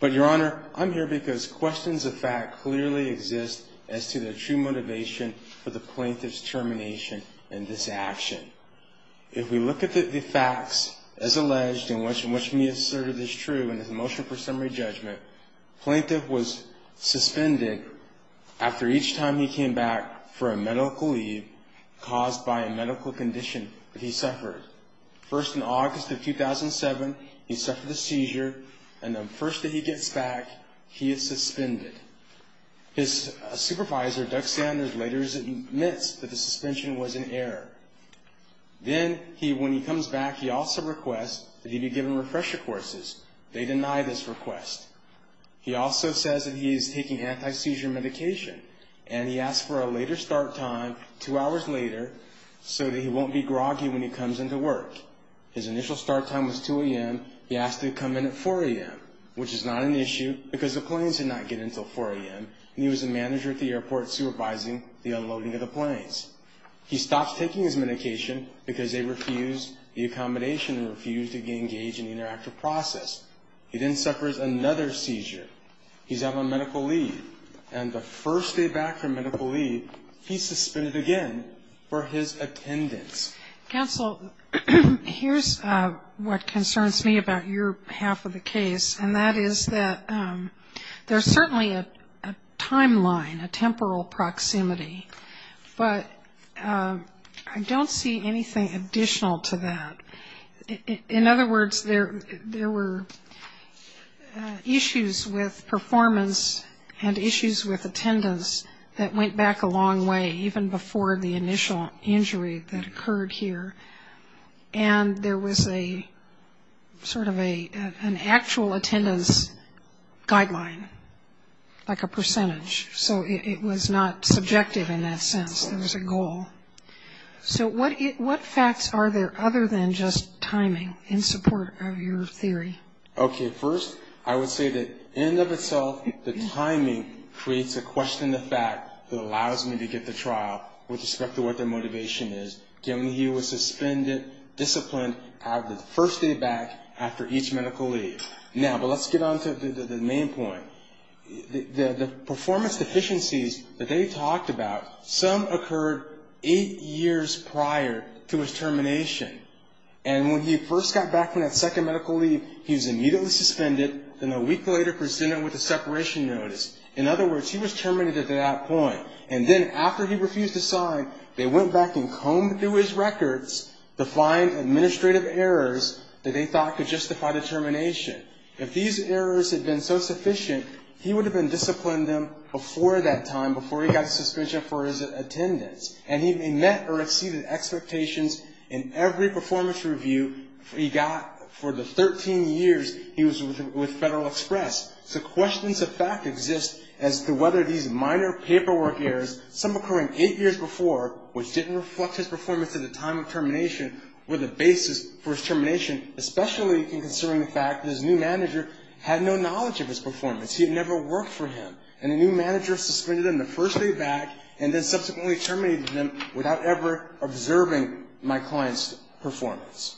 But Your Honor, I'm here because questions of fact clearly exist as to the true motivation for the plaintiff's termination in this action. If we look at the facts, as alleged, in which Mia asserted is true in his motion for summary judgment, the plaintiff was suspended after each time he came back for a medical leave caused by a medical condition that he suffered. First, in August of 2007, he suffered a seizure, and the first that he gets back, he is suspended. His supervisor, Doug Sanders, later admits that the suspension was an error. Then, when he comes back, he also requests that he be given refresher courses. They deny this request. He also says that he is taking anti-seizure medication, and he asks for a later start time, two hours later, so that he won't be groggy when he comes into work. His initial start time was 2 a.m. He asked to come in at 4 a.m., which is not an issue because the planes did not get in until 4 a.m., and he was the manager at the airport supervising the unloading of the planes. He stops taking his medication because they refused the accommodation and refused to engage in the interactive process. He then suffers another seizure. He's out on medical leave, and the first day back from medical leave, he's suspended again for his attendance. Counsel, here's what concerns me about your half of the case, and that is that there's certainly a timeline, a temporal proximity, but I don't see anything additional to that. In other words, there were issues with performance and issues with attendance that went back a long way, even before the initial injury that occurred here, and there was a sort of an actual attendance guideline, like a percentage. So it was not subjective in that sense. It was a goal. So what facts are there other than just timing in support of your theory? Okay. First, I would say that in and of itself, the timing creates a question of fact that allows me to get the trial with respect to what their motivation is, given he was suspended, disciplined out of the first day back after each medical leave. Now, but let's get on to the main point. The performance deficiencies that they talked about, some occurred eight years prior to his termination, and when he first got back from that second medical leave, he was immediately suspended, then a week later presented with a separation notice. In other words, he was terminated at that point, and then after he refused to sign, they went back and combed through his records to find administrative errors that they thought could justify the termination. If these errors had been so sufficient, he would have been disciplined then before that time, before he got a suspension for his attendance, and he met or exceeded expectations in every performance review he got for the 13 years he was with Federal Express. So questions of fact exist as to whether these minor paperwork errors, some occurring eight years before, which didn't reflect his performance at the time of termination, were the basis for his termination, especially considering the fact that his new manager had no knowledge of his performance. He had never worked for him, and the new manager suspended him the first day back and then subsequently terminated him without ever observing my client's performance.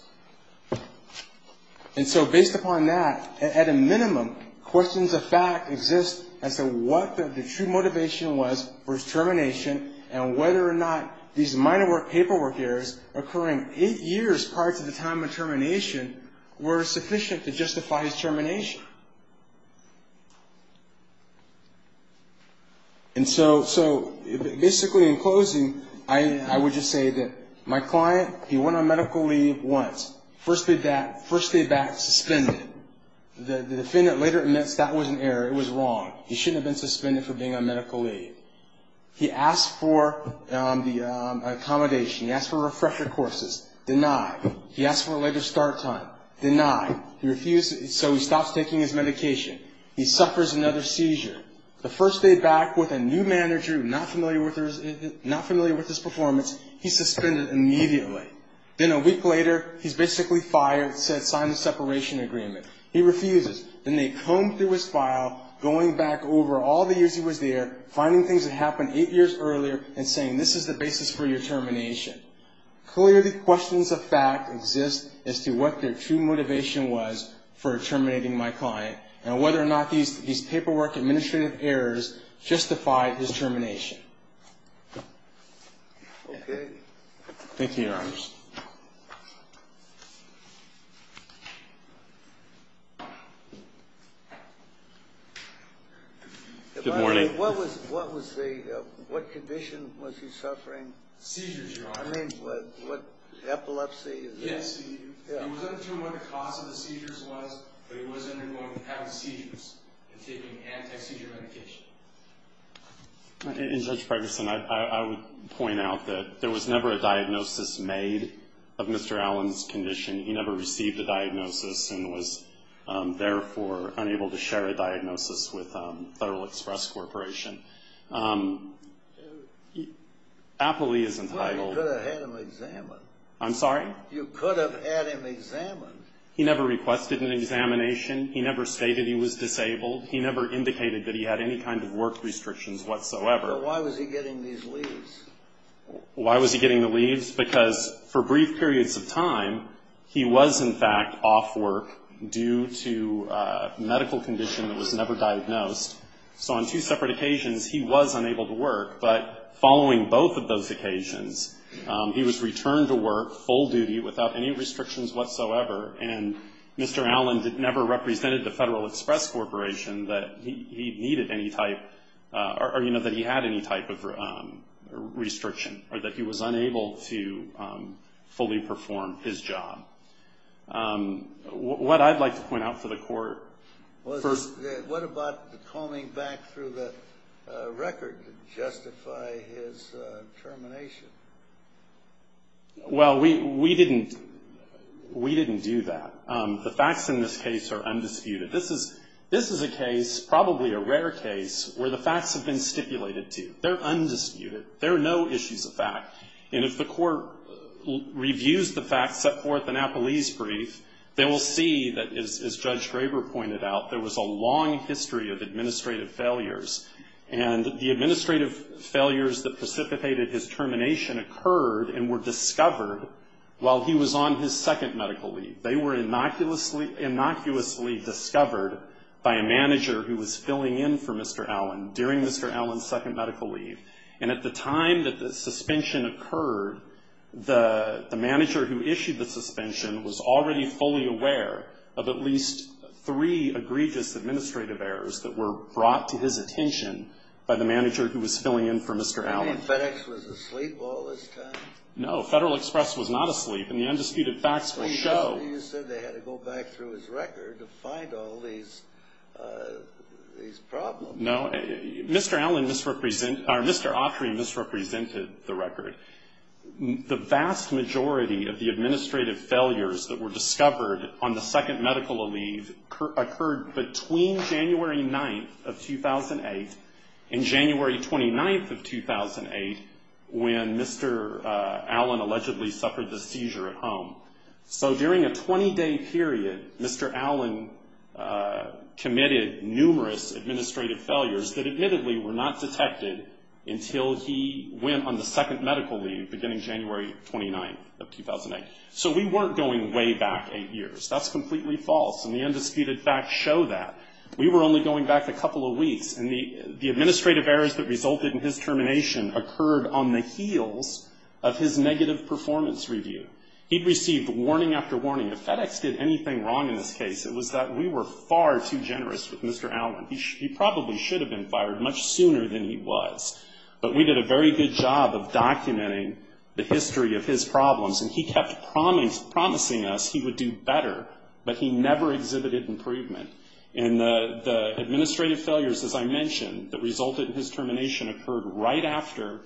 And so based upon that, at a minimum, questions of fact exist as to what the true motivation was for his termination and whether or not these minor paperwork errors occurring eight years prior to the time of termination were sufficient to justify his termination. And so basically, in closing, I would just say that my client, he went on medical leave once. First day back, suspended. The defendant later admits that was an error. It was wrong. He shouldn't have been suspended for being on medical leave. He asked for the accommodation. He asked for refresher courses. Denied. He asked for a later start time. Denied. So he stops taking his medication. He suffers another seizure. The first day back with a new manager not familiar with his performance, he's suspended immediately. Then a week later, he's basically fired, signed a separation agreement. He refuses. Then they comb through his file, going back over all the years he was there, finding things that happened eight years earlier, and saying this is the basis for your termination. Clearly, questions of fact exist as to what their true motivation was for terminating my client and whether or not these paperwork administrative errors justified his termination. Okay. Thank you, Your Honors. Good morning. What condition was he suffering? Seizures, Your Honor. I mean, what epilepsy? Yes. He wasn't sure what the cause of the seizures was, but he was undergoing having seizures and taking anti-seizure medication. And Judge Pregerson, I would point out that there was never a diagnosis made of Mr. Allen's condition. He never received a diagnosis and was, therefore, unable to share a diagnosis with Federal Express Corporation. Well, you could have had him examined. I'm sorry? You could have had him examined. He never requested an examination. He never stated he was disabled. He never indicated that he had any kind of work restrictions whatsoever. So why was he getting these leaves? Why was he getting the leaves? Because for brief periods of time, he was, in fact, off work due to a medical condition that was never diagnosed. So on two separate occasions, he was unable to work. But following both of those occasions, he was returned to work full duty without any restrictions whatsoever. And Mr. Allen never represented the Federal Express Corporation that he needed any type or, you know, that he had any type of restriction or that he was unable to fully perform his job. What I'd like to point out for the court first. What about the coming back through the record to justify his termination? Well, we didn't do that. The facts in this case are undisputed. This is a case, probably a rare case, where the facts have been stipulated to. They're undisputed. There are no issues of fact. And if the court reviews the facts set forth in Apolli's brief, they will see that, as Judge Graber pointed out, there was a long history of administrative failures. And the administrative failures that precipitated his termination occurred and were discovered while he was on his second medical leave. They were innocuously discovered by a manager who was filling in for Mr. Allen during Mr. Allen's second medical leave. And at the time that the suspension occurred, the manager who issued the suspension was already fully aware of at least three egregious administrative errors that were brought to his attention by the manager who was filling in for Mr. Allen. You mean FedEx was asleep all this time? No, Federal Express was not asleep. And the undisputed facts will show. You said they had to go back through his record to find all these problems. No. Mr. Allen misrepresented or Mr. Autry misrepresented the record. The vast majority of the administrative failures that were discovered on the second medical leave occurred between January 9th of 2008 and January 29th of 2008 when Mr. Allen allegedly suffered the seizure at home. So during a 20-day period, Mr. Allen committed numerous administrative failures that admittedly were not detected until he went on the second medical leave beginning January 29th of 2008. So we weren't going way back eight years. That's completely false, and the undisputed facts show that. We were only going back a couple of weeks, and the administrative errors that resulted in his termination occurred on the heels of his negative performance review. He received warning after warning. If FedEx did anything wrong in this case, it was that we were far too generous with Mr. Allen. He probably should have been fired much sooner than he was. But we did a very good job of documenting the history of his problems, and he kept promising us he would do better, but he never exhibited improvement. And the administrative failures, as I mentioned, that resulted in his termination occurred right after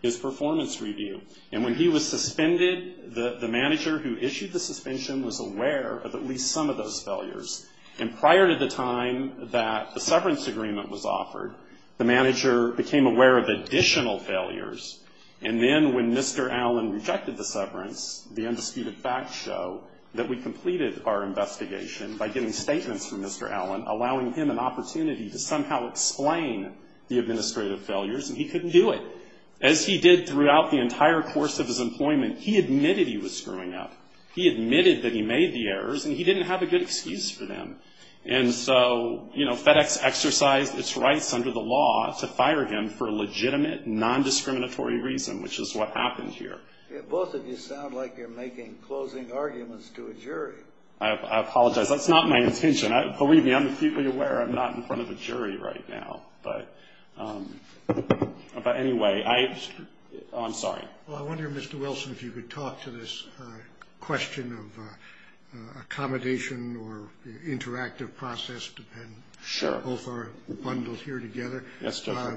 his performance review. And when he was suspended, the manager who issued the suspension was aware of at least some of those failures. And prior to the time that the severance agreement was offered, the manager became aware of additional failures. And then when Mr. Allen rejected the severance, the undisputed facts show that we completed our investigation by getting statements from Mr. Allen, allowing him an opportunity to somehow explain the administrative failures, and he couldn't do it. As he did throughout the entire course of his employment, he admitted he was screwing up. He admitted that he made the errors, and he didn't have a good excuse for them. And so, you know, FedEx exercised its rights under the law to fire him for a legitimate, non-discriminatory reason, which is what happened here. Both of you sound like you're making closing arguments to a jury. I apologize. That's not my intention. Believe me, I'm acutely aware I'm not in front of a jury right now. But anyway, I'm sorry. Well, I wonder, Mr. Wilson, if you could talk to this question of accommodation or interactive process. Sure. Both are bundled here together. Yes, Judge.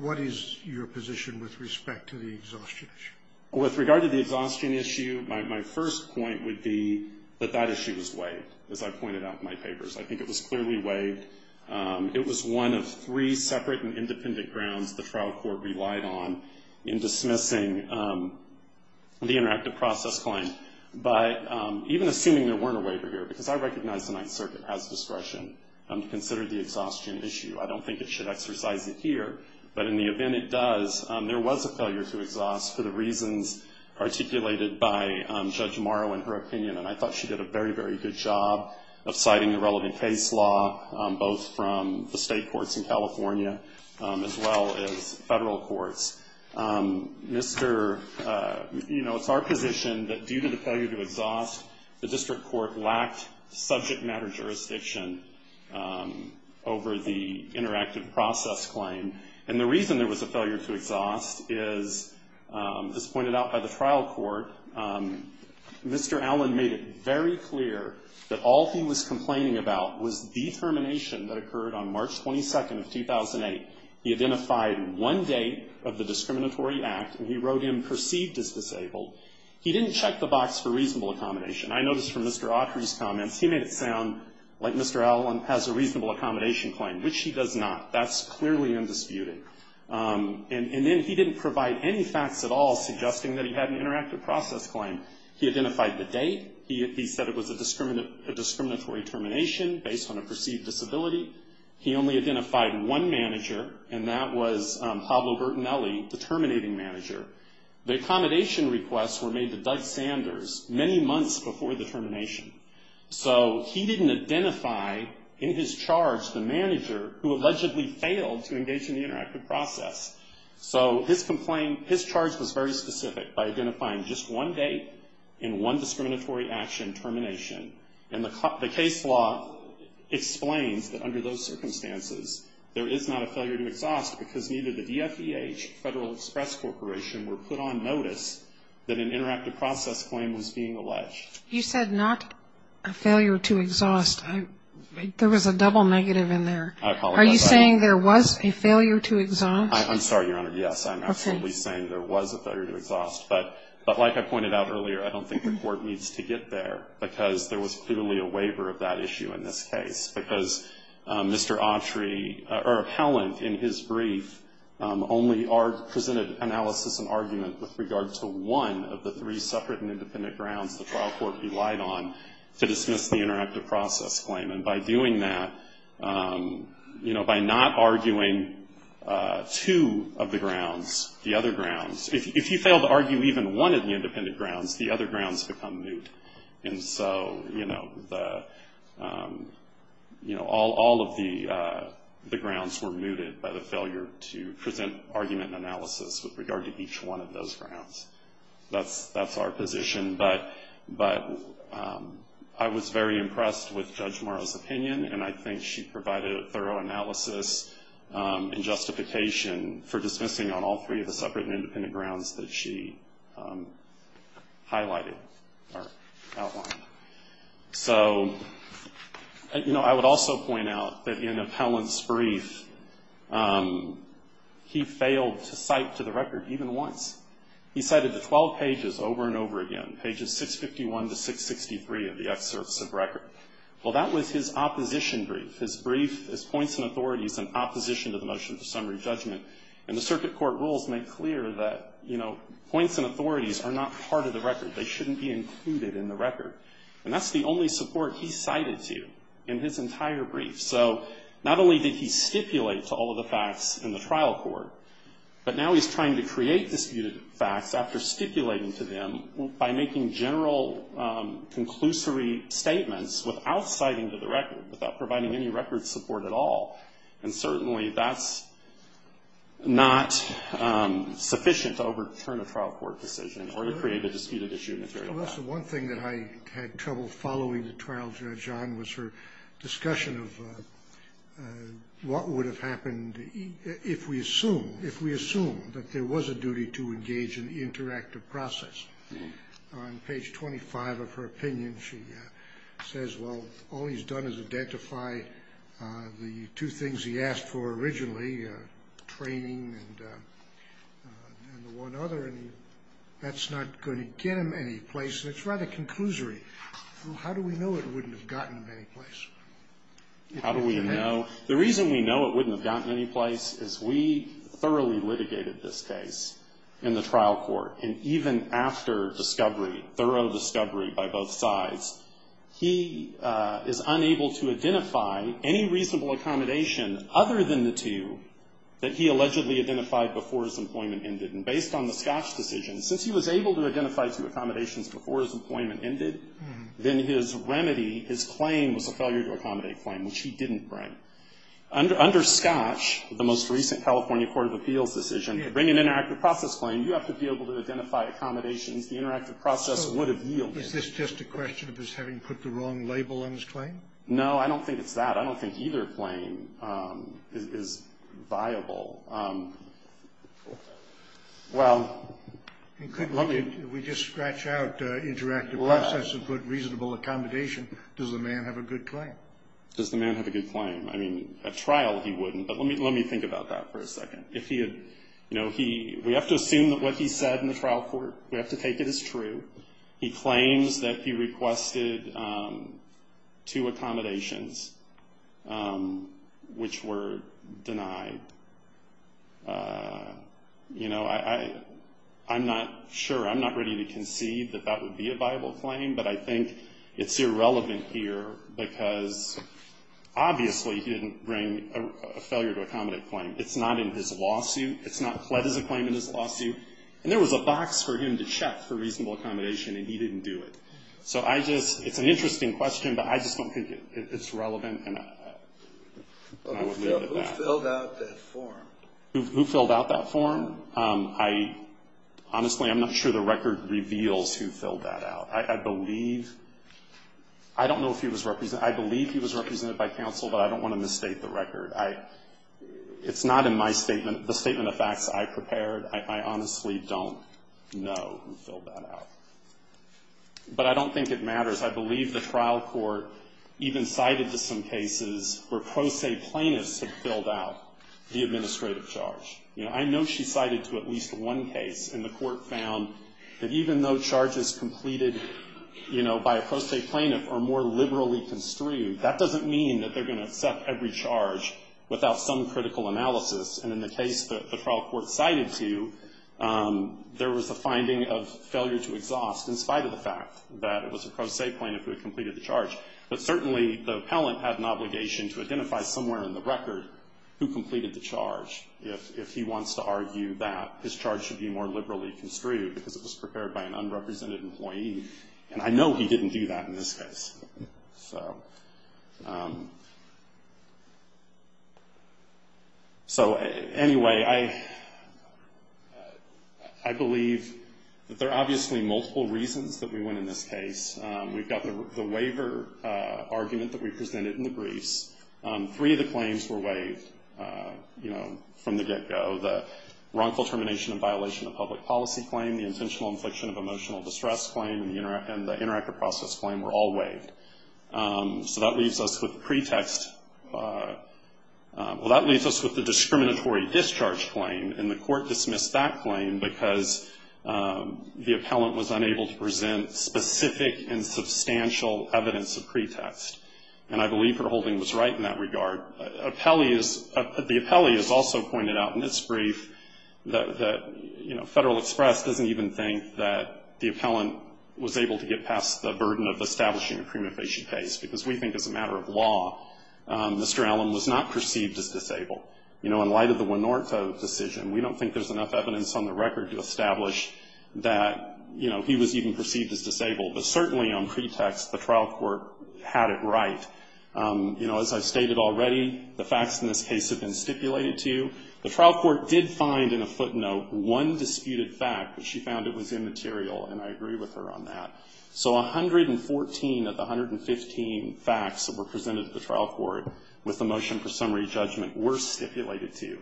What is your position with respect to the exhaustion issue? With regard to the exhaustion issue, my first point would be that that issue was waived, as I pointed out in my papers. I think it was clearly waived. It was one of three separate and independent grounds the trial court relied on in dismissing the interactive process claim. But even assuming there weren't a waiver here, because I recognize the Ninth Circuit has discretion to consider the exhaustion issue. I don't think it should exercise it here. But in the event it does, there was a failure to exhaust for the reasons articulated by Judge Morrow in her opinion. And I thought she did a very, very good job of citing the relevant case law, both from the state courts in California as well as federal courts. You know, it's our position that due to the failure to exhaust, the district court lacked subject matter jurisdiction over the interactive process claim. And the reason there was a failure to exhaust is, as pointed out by the trial court, Mr. Allen made it very clear that all he was complaining about was the termination that occurred on March 22nd of 2008. He identified one date of the discriminatory act, and he wrote in perceived as disabled. He didn't check the box for reasonable accommodation. I noticed from Mr. Autry's comments, he made it sound like Mr. Allen has a reasonable accommodation claim, which he does not. That's clearly undisputed. And then he didn't provide any facts at all suggesting that he had an interactive process claim. He identified the date. He said it was a discriminatory termination based on a perceived disability. He only identified one manager, and that was Pablo Bertinelli, the terminating manager. The accommodation requests were made to Doug Sanders many months before the termination. So he didn't identify in his charge the manager who allegedly failed to engage in the interactive process. So his complaint, his charge was very specific by identifying just one date and one discriminatory action termination. And the case law explains that under those circumstances, there is not a failure to exhaust because neither the DFEH, Federal Express Corporation, were put on notice that an interactive process claim was being alleged. You said not a failure to exhaust. There was a double negative in there. I apologize. Are you saying there was a failure to exhaust? I'm sorry, Your Honor. Yes, I'm absolutely saying there was a failure to exhaust. But like I pointed out earlier, I don't think the Court needs to get there because there was clearly a waiver of that issue in this case. Because Mr. Autry or Helland in his brief only presented analysis and argument with regard to one of the three separate and independent grounds the trial court relied on to dismiss the interactive process claim. And by doing that, you know, by not arguing two of the grounds, the other grounds, if you fail to argue even one of the independent grounds, the other grounds become moot. And so, you know, all of the grounds were mooted by the failure to present argument and analysis with regard to each one of those grounds. That's our position. But I was very impressed with Judge Morrow's opinion, and I think she provided a thorough analysis and justification for dismissing on all three of the separate and independent grounds that she highlighted or outlined. So, you know, I would also point out that in Helland's brief, he failed to cite to the record even once. He cited the 12 pages over and over again, pages 651 to 663 of the excerpts of record. Well, that was his opposition brief. His brief is points and authorities in opposition to the motion for summary judgment. And the circuit court rules make clear that, you know, points and authorities are not part of the record. They shouldn't be included in the record. And that's the only support he cited to in his entire brief. So not only did he stipulate to all of the facts in the trial court, but now he's trying to create disputed facts after stipulating to them by making general conclusory statements without citing to the record, without providing any record support at all. And certainly that's not sufficient to overturn a trial court decision or to create a disputed issue in the trial court. Scalia. Well, that's the one thing that I had trouble following the trial judge on was her discussion of what would have happened if we assume, if we assume that there was a duty to engage in the interactive process. On page 25 of her opinion, she says, well, all he's done is identify the two things he asked for originally, training and the one other. And that's not going to get him any place. It's rather conclusory. How do we know it wouldn't have gotten him any place? How do we know? The reason we know it wouldn't have gotten him any place is we thoroughly litigated this case in the trial court. And even after discovery, thorough discovery by both sides, he is unable to identify any reasonable accommodation other than the two that he allegedly identified before his employment ended. And based on the Scotch decision, since he was able to identify two accommodations before his employment ended, then his remedy, his claim, was a failure to accommodate claim, which he didn't bring. Under Scotch, the most recent California court of appeals decision, to bring an interactive process claim, you have to be able to identify accommodations. The interactive process would have yielded. Is this just a question of his having put the wrong label on his claim? No. I don't think it's that. I don't think either claim is viable. Well, let me. We just scratched out interactive process and put reasonable accommodation. Does the man have a good claim? Does the man have a good claim? I mean, at trial he wouldn't, but let me think about that for a second. If he had, you know, we have to assume that what he said in the trial court, we have to take it as true. He claims that he requested two accommodations, which were denied. You know, I'm not sure. I'm not ready to concede that that would be a viable claim, but I think it's irrelevant here because obviously he didn't bring a failure to accommodate claim. It's not in his lawsuit. It's not pled as a claim in his lawsuit. And there was a box for him to check for reasonable accommodation, and he didn't do it. So I just, it's an interesting question, but I just don't think it's relevant. Who filled out that form? Who filled out that form? I, honestly, I'm not sure the record reveals who filled that out. I believe, I don't know if he was, I believe he was represented by counsel, but I don't want to misstate the record. It's not in my statement, the statement of facts I prepared. I honestly don't know who filled that out. But I don't think it matters. I believe the trial court even cited to some cases where pro se plaintiffs had filled out the administrative charge. You know, I know she cited to at least one case, and the court found that even though charges completed, you know, by a pro se plaintiff are more liberally construed, that doesn't mean that they're going to accept every charge without some critical analysis. And in the case that the trial court cited to, there was a finding of failure to exhaust in spite of the fact that it was a pro se plaintiff who had completed the charge. But certainly the appellant had an obligation to identify somewhere in the record who completed the charge if he wants to argue that his charge should be more liberally construed because it was prepared by an unrepresented employee. And I know he didn't do that in this case. So anyway, I believe that there are obviously multiple reasons that we went in this case. We've got the waiver argument that we presented in the briefs. Three of the claims were waived, you know, from the get-go. The wrongful termination and violation of public policy claim, the intentional infliction of emotional distress claim, and the interactive process claim were all waived. So that leaves us with pretext. Well, that leaves us with the discriminatory discharge claim, and the court dismissed that claim because the appellant was unable to present specific and substantial evidence of pretext. And I believe Verholding was right in that regard. The appellee has also pointed out in this brief that, you know, he was able to get past the burden of establishing a prima facie case, because we think as a matter of law, Mr. Allen was not perceived as disabled. You know, in light of the Winortho decision, we don't think there's enough evidence on the record to establish that, you know, he was even perceived as disabled. But certainly on pretext, the trial court had it right. You know, as I've stated already, the facts in this case have been stipulated to you. The trial court did find in a footnote one disputed fact, but she found it was immaterial, and I agree with her on that. So 114 of the 115 facts that were presented to the trial court with the motion for summary judgment were stipulated to you.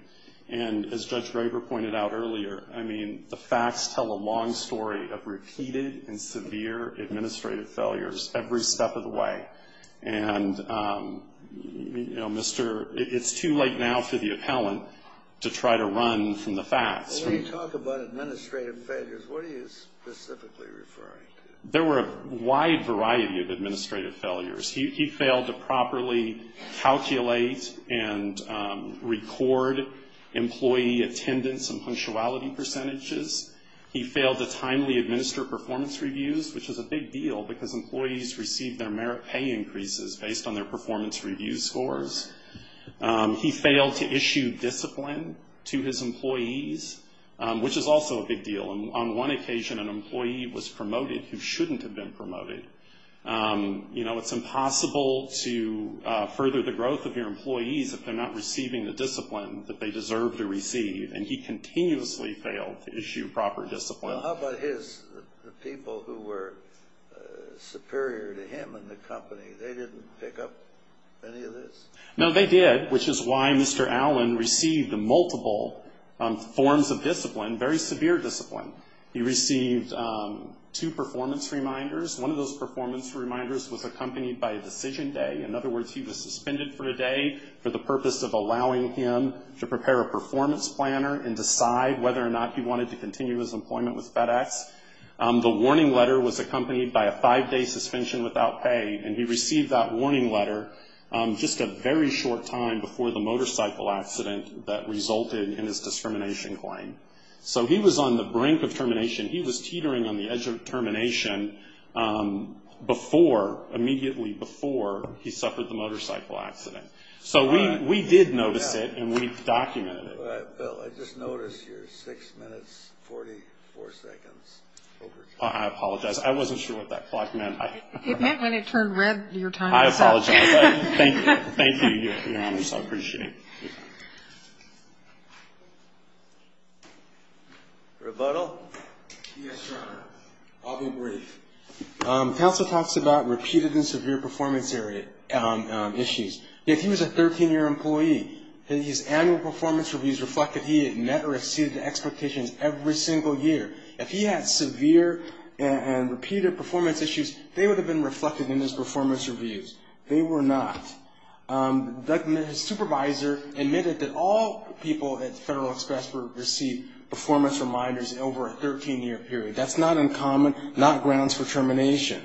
And as Judge Graber pointed out earlier, I mean, the facts tell a long story of repeated and severe administrative failures every step of the way. And, you know, Mr. It's too late now for the appellant to try to run from the facts. When you talk about administrative failures, what are you specifically referring to? There were a wide variety of administrative failures. He failed to properly calculate and record employee attendance and punctuality percentages. He failed to timely administer performance reviews, which is a big deal because employees receive their merit pay increases based on their performance review scores. He failed to issue discipline to his employees, which is also a big deal. On one occasion, an employee was promoted who shouldn't have been promoted. You know, it's impossible to further the growth of your employees if they're not receiving the discipline that they deserve to receive, and he continuously failed to issue proper discipline. Well, how about his people who were superior to him in the company? They didn't pick up any of this? No, they did, which is why Mr. Allen received multiple forms of discipline, very severe discipline. He received two performance reminders. One of those performance reminders was accompanied by a decision day. In other words, he was suspended for a day for the purpose of allowing him to prepare a performance planner and decide whether or not he wanted to continue his employment with FedEx. The warning letter was accompanied by a five-day suspension without pay, and he received that warning letter just a very short time before the motorcycle accident that resulted in his discrimination claim. So he was on the brink of termination. He was teetering on the edge of termination immediately before he suffered the motorcycle accident. So we did notice it, and we documented it. All right, Bill, I just noticed you're 6 minutes 44 seconds over time. I apologize. I wasn't sure what that clock meant. It meant when it turned red, your time was up. I apologize. Thank you, Your Honor, so I appreciate it. Rebuttal? Yes, Your Honor. I'll be brief. Counsel talks about repeated and severe performance issues. If he was a 13-year employee, his annual performance reviews reflected he had met or exceeded the expectations every single year. If he had severe and repeated performance issues, they would have been reflected in his performance reviews. They were not. His supervisor admitted that all people at Federal Express received performance reminders over a 13-year period. That's not uncommon, not grounds for termination.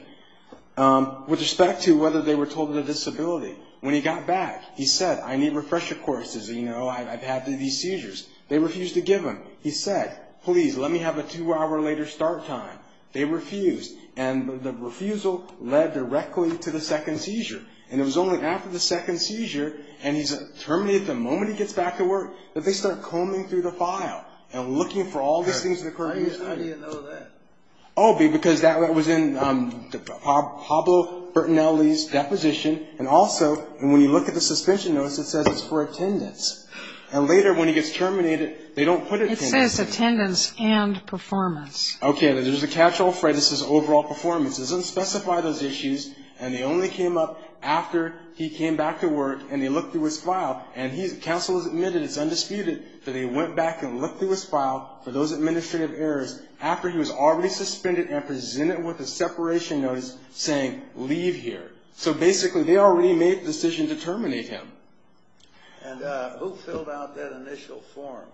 With respect to whether they were told of a disability, when he got back, he said, I need refresher courses, you know, I've had these seizures. They refused to give him. He said, please, let me have a two-hour later start time. They refused, and the refusal led directly to the second seizure. And it was only after the second seizure, and he's terminated, the moment he gets back to work, that they start combing through the file and looking for all these things that occurred in his time. How do you know that? Oh, because that was in Pablo Bertinelli's deposition. And also, when you look at the suspension notice, it says it's for attendance. And later, when he gets terminated, they don't put it there. It says attendance and performance. Okay. There's a catch-all phrase that says overall performance. It doesn't specify those issues, and they only came up after he came back to work, and they looked through his file. And counsel has admitted, it's undisputed, that they went back and looked through his file for those administrative errors after he was already suspended and presented with a separation notice saying, leave here. So basically, they already made the decision to terminate him. And who filled out that initial form?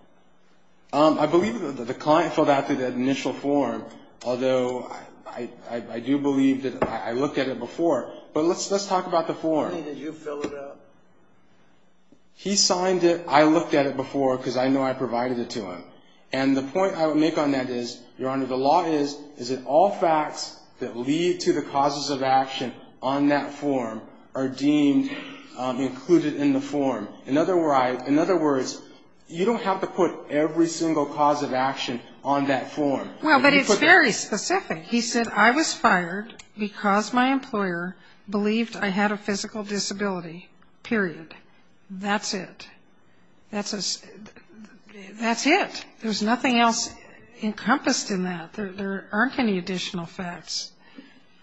I believe that the client filled out the initial form, although I do believe that I looked at it before. But let's talk about the form. What do you mean, did you fill it out? He signed it. I looked at it before because I know I provided it to him. And the point I would make on that is, Your Honor, the law is, is that all facts that lead to the causes of action on that form are deemed included in the form. In other words, you don't have to put every single cause of action on that form. Well, but it's very specific. He said, I was fired because my employer believed I had a physical disability, period. That's it. That's it. There's nothing else encompassed in that. There aren't any additional facts.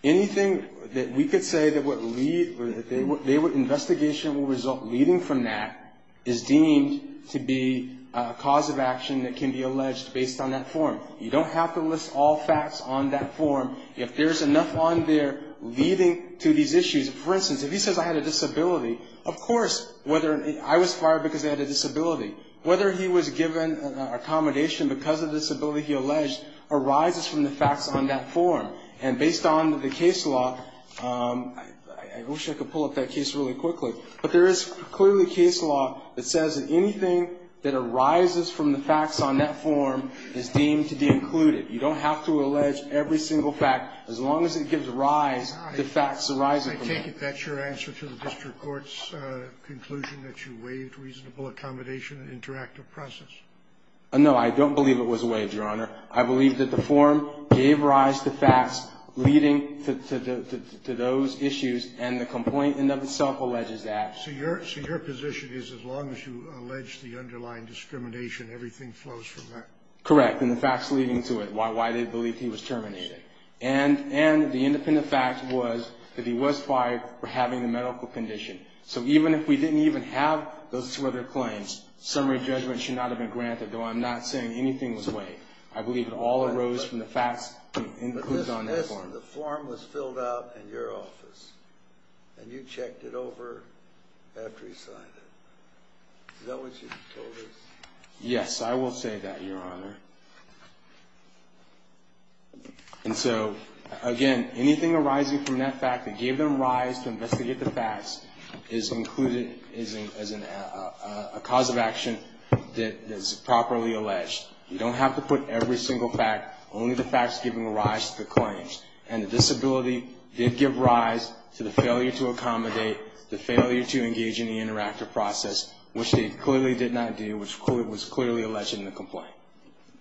Anything that we could say that would lead, that they would, investigation would result leading from that is deemed to be a cause of action that can be alleged based on that form. You don't have to list all facts on that form. If there's enough on there leading to these issues, for instance, if he says, I had a disability, of course, whether, I was fired because I had a disability. Whether he was given accommodation because of disability he alleged arises from the facts on that form. And based on the case law, I wish I could pull up that case really quickly, but there is clearly case law that says that anything that arises from the facts on that form is deemed to be included. You don't have to allege every single fact, as long as it gives rise to facts arising from it. I take it that's your answer to the district court's conclusion that you waived reasonable accommodation and interactive process. No, I don't believe it was waived, Your Honor. I believe that the form gave rise to facts leading to those issues, and the complaint in and of itself alleges that. So your position is as long as you allege the underlying discrimination, everything flows from that? Correct, and the facts leading to it, why they believe he was terminated. And the independent fact was that he was fired for having a medical condition. So even if we didn't even have those two other claims, summary judgment should not have been granted, though I'm not saying anything was waived. I believe it all arose from the facts included on that form. But listen, the form was filled out in your office, and you checked it over after he signed it. Is that what you told us? Yes, I will say that, Your Honor. And so, again, anything arising from that fact that gave them rise to investigate the facts is included as a cause of action that is properly alleged. You don't have to put every single fact, only the facts giving rise to the claims. And the disability did give rise to the failure to accommodate, the failure to engage in the interactive process, which they clearly did not do, which was clearly alleged in the complaint. Thank you.